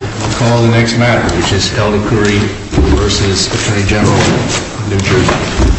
I'll call the next matter, which is held inquiry versus Attorney General of New Jersey.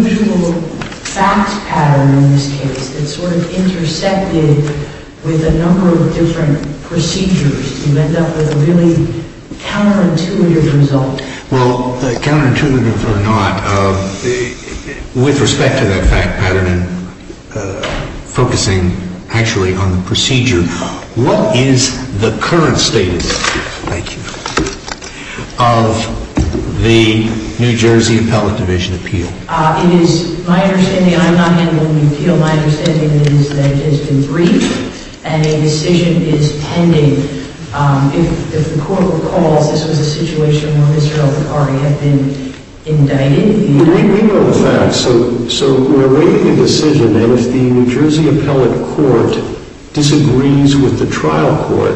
I'll call the next matter. I'll call the next matter. Is he? Yes, sir. Yes, thank you very much. Yes, thank you very much. Tomorrow evening on behalf of the appellant, Mr. McCurry, I would like to reserve the minutes for the public. Okay. Thank you. We have a very unusual facts pattern in this case that sort of intersected with a number of different procedures and end up with a really counterintuitive result. Well, counterintuitive or not, with respect to that fact pattern and focusing actually on the procedure, what is the current status of the New Jersey Appellant Division appeal? It is, my understanding, and I'm not handling the appeal, my understanding is that it has been briefed and a decision is pending. If the court recalls this was a situation where Mr. McCurry had been indicted. We know the facts. So we're awaiting a decision, and if the New Jersey Appellate Court disagrees with the trial court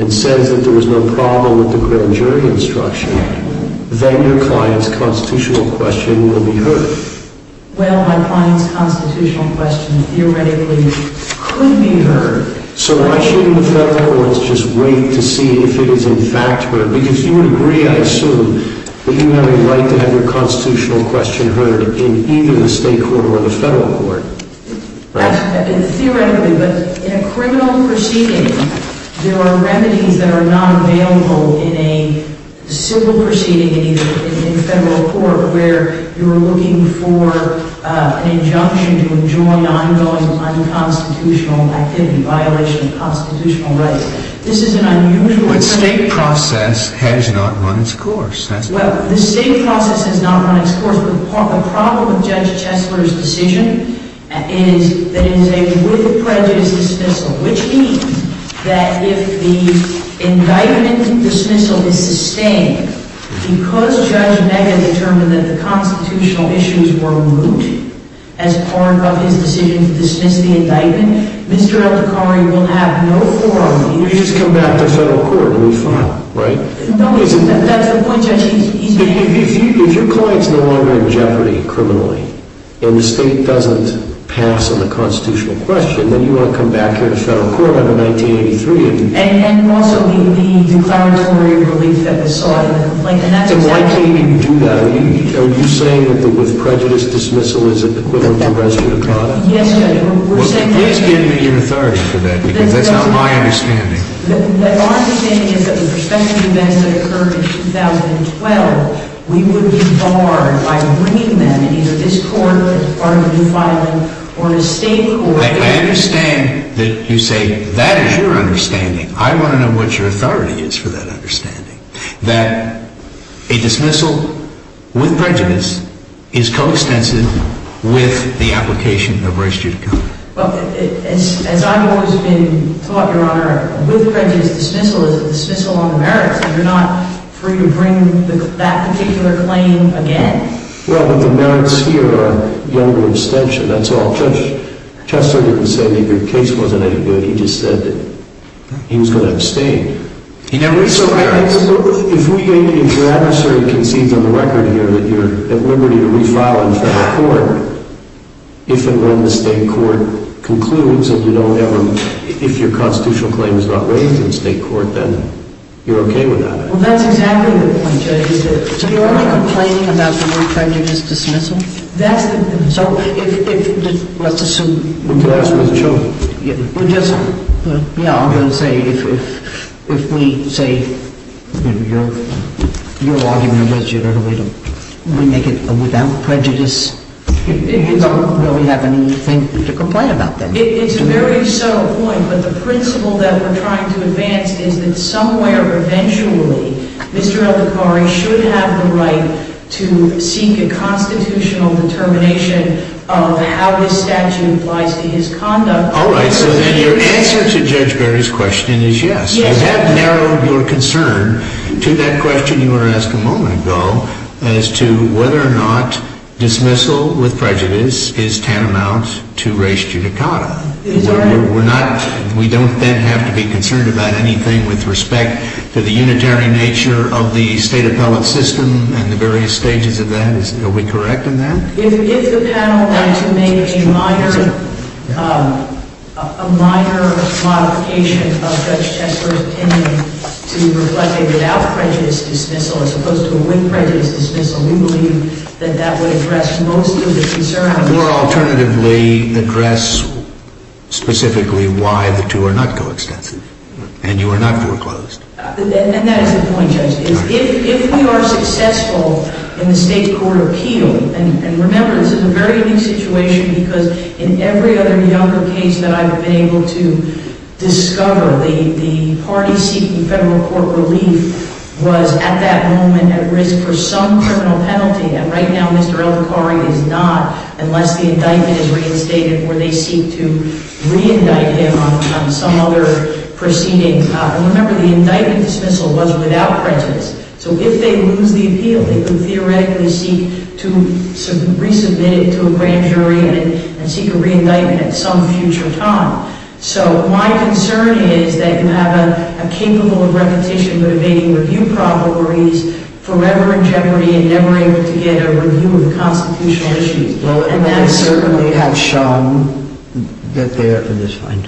and says that there was no problem with the grand jury instruction, then your client's constitutional question will be heard. Well, my client's constitutional question theoretically could be heard. So why shouldn't the federal courts just wait to see if it is in fact heard? Because you would agree, I assume, that you have a right to have your constitutional question heard in either the state court or the federal court, right? Theoretically, but in a criminal proceeding, there are remedies that are not available in a civil proceeding in either the federal court where you are looking for an injunction to enjoin ongoing unconstitutional activity, violation of constitutional rights. This is an unusual thing. But state process has not run its course. Well, the state process has not run its course, but the problem with Judge Chesler's decision is that it is a with prejudice dismissal, which means that if the indictment dismissal is sustained because Judge Nega determined that the constitutional issues were moot as part of his decision to dismiss the indictment, Mr. Eltakari will have no forum. You just come back to federal court and we file, right? That's the point, Judge. If your client's no longer in jeopardy criminally and the state doesn't pass on the constitutional question, then you want to come back here to federal court on the 1983. And also the declaratory relief that was sought in the complaint. So why can't you do that? Are you saying that the with prejudice dismissal is equivalent to arresting a client? Yes, Judge. We're saying that. Well, give me your authority for that, because that's not my understanding. Our understanding is that the prospective events that occurred in 2012, we would be barred by bringing them, either this court or the new filing, or the state court. I understand that you say that is your understanding. I want to know what your authority is for that understanding, that a dismissal with prejudice is coextensive with the application of res judicata. Well, as I've always been taught, Your Honor, with prejudice dismissal is a dismissal on the merits, and you're not free to bring that particular claim again. Well, but the merits here are younger extension, that's all. Judge Chester didn't say that your case wasn't any good. He just said that he was going to abstain. If your adversary concedes on the record here that you're at liberty to refile in federal court, if and when the state court concludes and if your constitutional claim is not waived in state court, then you're okay with that. Well, that's exactly the point, Judge. So you're only complaining about the word prejudice dismissal? That's the point. So let's assume... To ask for the truth. Yeah, I'm going to say if we say your argument was you're going to make it without prejudice, you don't really have anything to complain about then. It's a very subtle point, but the principle that we're trying to advance is that somewhere eventually Mr. Al-Bukhari should have the right to seek a constitutional determination of how his statute applies to his conduct. All right, so then your answer to Judge Berry's question is yes. You have narrowed your concern to that question you were asked a moment ago as to whether or not dismissal with prejudice is tantamount to res judicata. We don't then have to be concerned about anything with respect to the unitary nature of the state appellate system and the various stages of that. Are we correct in that? If the panel were to make a minor modification of Judge Tesler's opinion to reflect a without prejudice dismissal as opposed to a with prejudice dismissal, we believe that that would address most of the concern. Or alternatively, address specifically why the two are not coextensive and you are not foreclosed. And that is the point, Judge. If we are successful in the state court appeal, and remember this is a very new situation because in every other younger case that I've been able to discover, the party seeking federal court relief was at that moment at risk for some criminal penalty. And right now Mr. Al-Bukhari is not unless the indictment is reinstated or they seek to reindict him on some other proceeding. And remember the indictment dismissal was without prejudice. So if they lose the appeal, they can theoretically seek to resubmit it to a grand jury and seek a reindictment at some future time. So my concern is that you have a capable of repetition but evading review problem where he's forever in jeopardy and never able to get a review of the constitutional issues. And that's certainly... Well, they have shown that they're...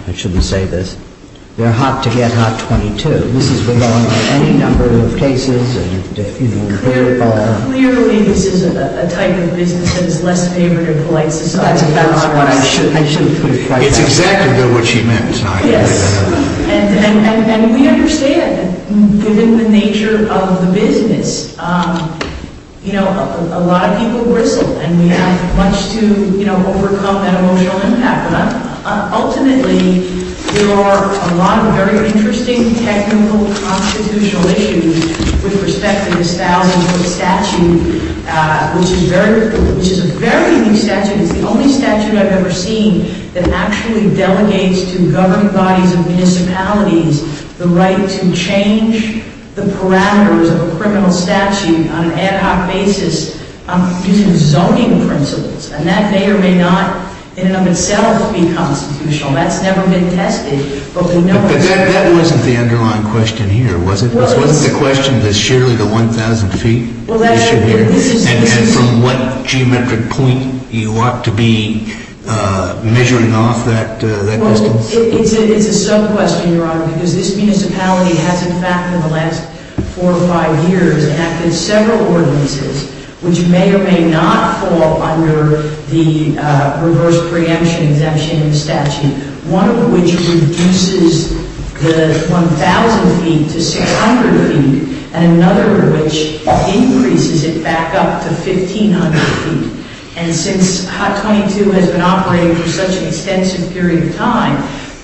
I shouldn't say this. They're hot to get, not 22. This has been going on in any number of cases. Clearly this is a type of business that is less favored in polite society. That's about right. I shouldn't put it quite like that. It's exactly what she meant. Yes. And we understand that given the nature of the business, you know, a lot of people whistle and we have much to, you know, overcome that emotional impact. But ultimately, there are a lot of very interesting technical constitutional issues with respect to this thousand-foot statute, which is a very new statute. It's the only statute I've ever seen that actually delegates to government bodies and municipalities the right to change the parameters of a criminal statute on an ad hoc basis using zoning principles. And that may or may not in and of itself be constitutional. That's never been tested, but we know... But that wasn't the underlying question here, was it? This wasn't the question, this sheerly the 1,000 feet issue here? And from what geometric point you ought to be measuring off that distance? Well, it's a sub-question, Your Honor, because this municipality has in fact in the last four or five years enacted several ordinances which may or may not fall under the reverse preemption exemption in the statute, one of which reduces the 1,000 feet to 600 feet and another which increases it back up to 1,500 feet. And since HOT 22 has been operating for such an extensive period of time,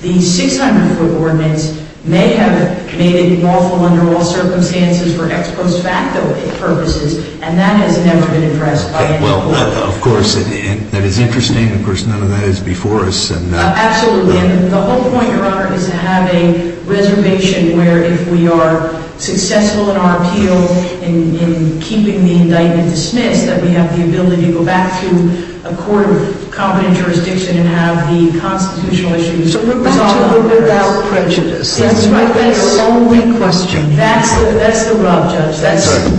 the 600-foot ordinance may have made it lawful under all circumstances for ex post facto purposes and that has never been addressed by any court. Well, of course, that is interesting. Of course, none of that is before us. Absolutely, and the whole point, Your Honor, is to have a reservation where if we are successful in our appeal in keeping the indictment dismissed that we have the ability to go back to a court of competent jurisdiction and have the constitutional issues resolved. So we're back to the without prejudice. That's right. That's the only question here. That's the rub, Judge.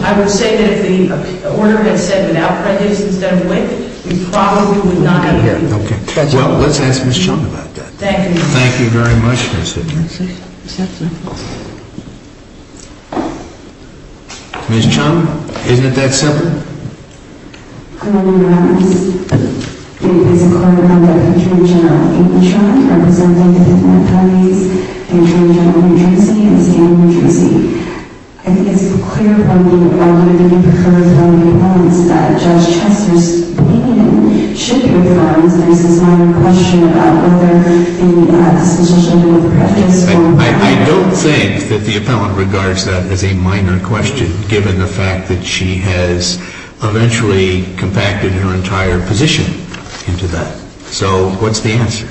I would say that if the order had said without prejudice instead of with, we probably would not have had to do that. Okay. Well, let's ask Ms. Chung about that. Thank you. Thank you very much, Ms. Simmons. Ms. Chung, isn't it that simple? Your Honor, it is a court order by the Attorney General of England, representing the Fifth Amendment parties, the Attorney General of New Jersey and the State of New Jersey. I think it's clear from the argument that you've heard from the appellants that Judge Chester's opinion should be reaffirmed and there's this minor question about whether a constitutional amendment with prejudice or without prejudice. I don't think that the appellant regards that as a minor question, given the fact that she has eventually compacted her entire position into that. So what's the answer?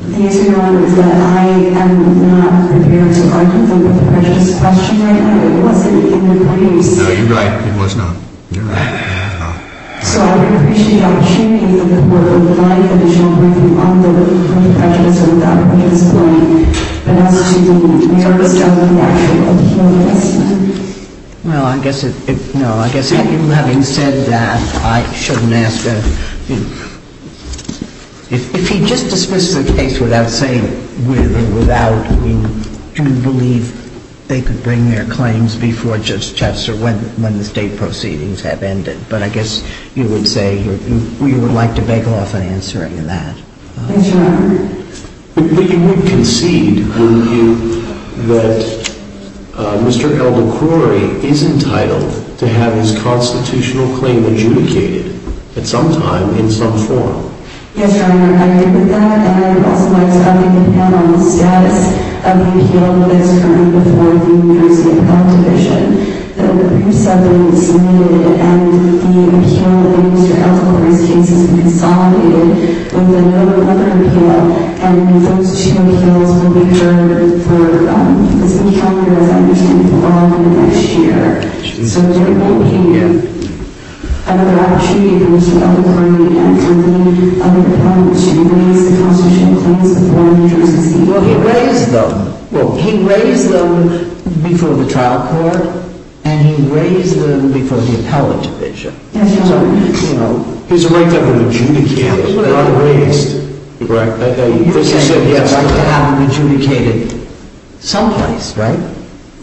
The answer, Your Honor, is that I am not prepared to argue the prejudice question, Your Honor. It wasn't in the briefs. No, you're right. It was not. You're right. It was not. So I would appreciate the opportunity for a live, additional briefing on the prejudice or without prejudice point and as to the merits of the action of the appellant. Well, I guess it, no, I guess having said that, I shouldn't ask a, if he just dismisses the case without saying with or without, do you believe they could bring their claims before Judge Chester when the state proceedings have ended? But I guess you would say you would like to bagel off an answer to that. Yes, Your Honor. But you would concede, wouldn't you, that Mr. L. McCrory is entitled to have his constitutional claim adjudicated at some time in some form? Yes, Your Honor, I agree with that and I would also like to update the panel on the status of the appeal that is occurring before the New Jersey Appellate Division that were previously disseminated and the appeal against Mr. L. McCrory's case has been consolidated with a no-recover appeal and those two appeals will be heard for as many years as I understand for all of next year. So we're looking at another opportunity for Mr. L. McCrory and for the appellant to raise the constitutional claims before the New Jersey Supreme Court. Well, he raised them. Well, he raised them before the trial court and he raised them before the appellate division. Yes, Your Honor. So, you know... He has a right to have them adjudicated, not raised. Correct. He has a right to have them adjudicated someplace, right?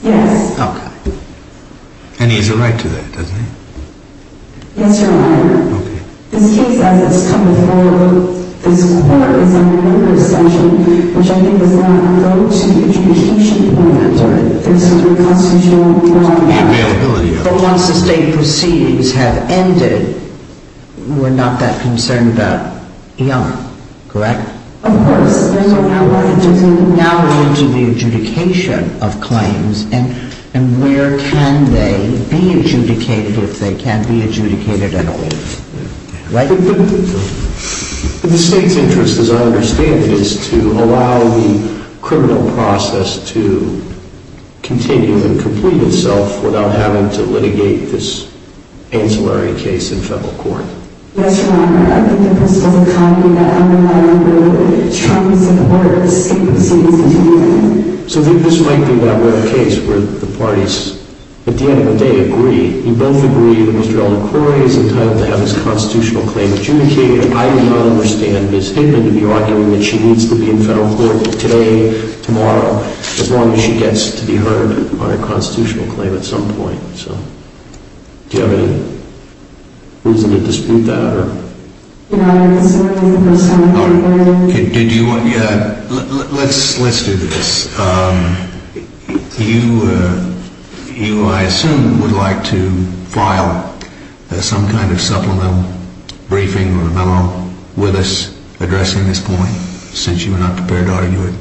Yes. Okay. And he has a right to that, doesn't he? Yes, Your Honor. Okay. This case, as it's come before, this court is under another session, which I think does not go to the adjudication department. That's right. This is the Constitutional Court of Appeals. The availability of it. But once the state proceedings have ended, we're not that concerned about Young. Correct? Of course. Now we're into the adjudication of claims and where can they be adjudicated if they can't be adjudicated at all? Right? The state's interest, as I understand it, is to allow the criminal process to continue and complete itself without having to litigate this ancillary case in federal court. Yes, Your Honor. I think the difference doesn't come in that I'm not aware of the terms and words that he's using. So, this might be that rare case where the parties at the end of the day agree. We both agree that Mr. Elder Corey is entitled to have his constitutional claim adjudicated. I do not understand Ms. Hickman to be arguing that she needs to be in federal court today, tomorrow, as long as she gets to be heard on a constitutional claim at some point. So, do you have any reason to dispute that? Your Honor, I'm concerned with the person in front of me. Let's do this. You, I assume, would like to file some kind of supplemental briefing or memo with us addressing this point, since you are not prepared to argue it.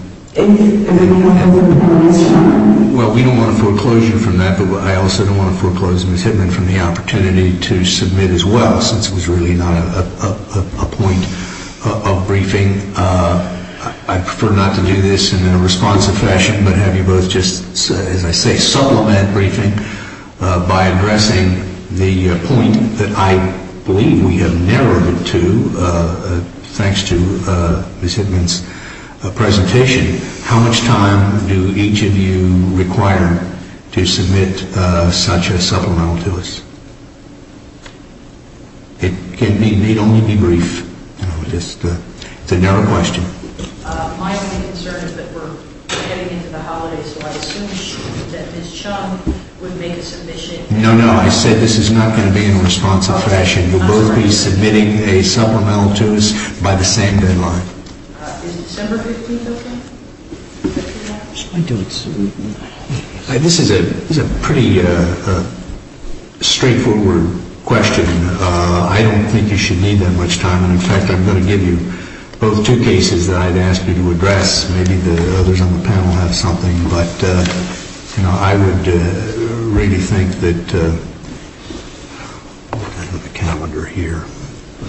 Well, we don't want to foreclose you from that, but I also don't want to foreclose Ms. Hickman from the opportunity to submit as well, since it was really not a point of briefing. I prefer not to do this, in a responsive fashion, but have you both just, as I say, supplement briefing by addressing the point that I believe we have narrowed it to, thanks to Ms. Hickman's presentation. How much time do each of you require to submit such a supplemental to us? It may only be brief. It's a narrow question. My only concern is that we're getting into the holidays, so I assume that Ms. Chung would make a submission. No, no, I said this is not going to be in a responsive fashion. You'll both be submitting a supplemental to us by the same deadline. Is December 15th okay? I don't... This is a pretty straightforward question. I don't think you should need that much time, and in fact, I'm going to give you both two cases that I'd ask you to address. Maybe the others on the panel have something, but I would really think that... I don't have a calendar here.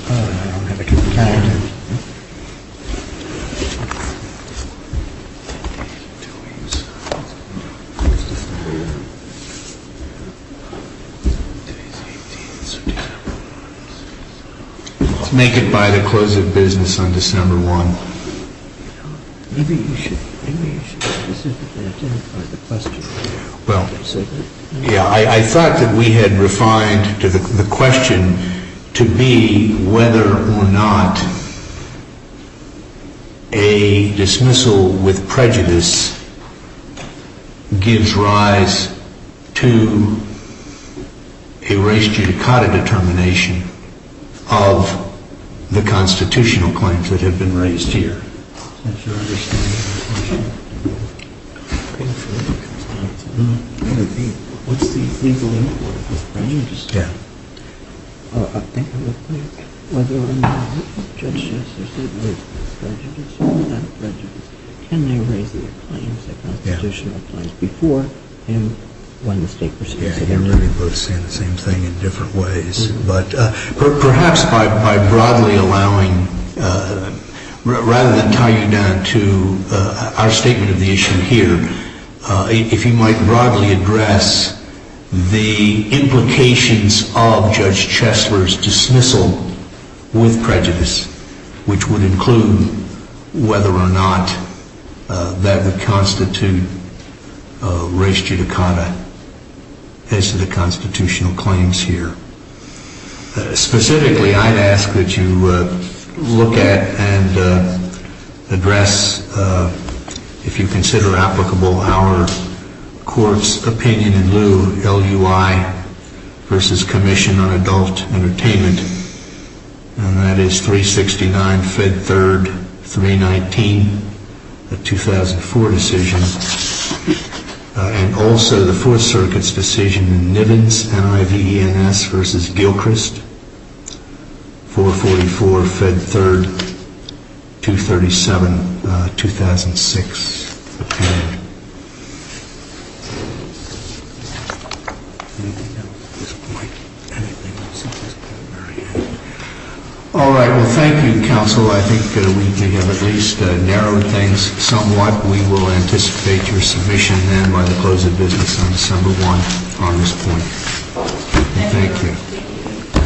I don't have a calendar. I don't have a calendar. Let's make it by the close of business on December 1. I thought that we had refined the question to be whether or not a dismissal with prejudice gives rise to a res judicata determination of the constitutional claims that have been raised here. Is that your understanding? What's the legal import of prejudice? I think I would think whether or not Judge Justice said there's prejudice or without prejudice. Can they raise their claims, their constitutional claims, before and when the state receives it? Yeah, you're really both saying the same thing in different ways, but perhaps by broadly allowing... I'm going to tie you down to our statement of the issue here. If you might broadly address the implications of Judge Chesler's dismissal with prejudice, which would include whether or not that would constitute res judicata as to the constitutional claims here. Specifically, I'd ask that you look at and address, if you consider applicable, our court's opinion in lieu of LUI versus Commission on Adult Entertainment, and that is 369 Fed 3rd 319, a 2004 decision, and also the Fourth Circuit's decision in Nivens NIVNS versus Gilchrist, 444 Fed 3rd 237, 2006. All right, well, thank you, Counsel. I think we have at least narrowed things somewhat. We will anticipate your submission, then, by the close of business on December 1, on this point. Thank you.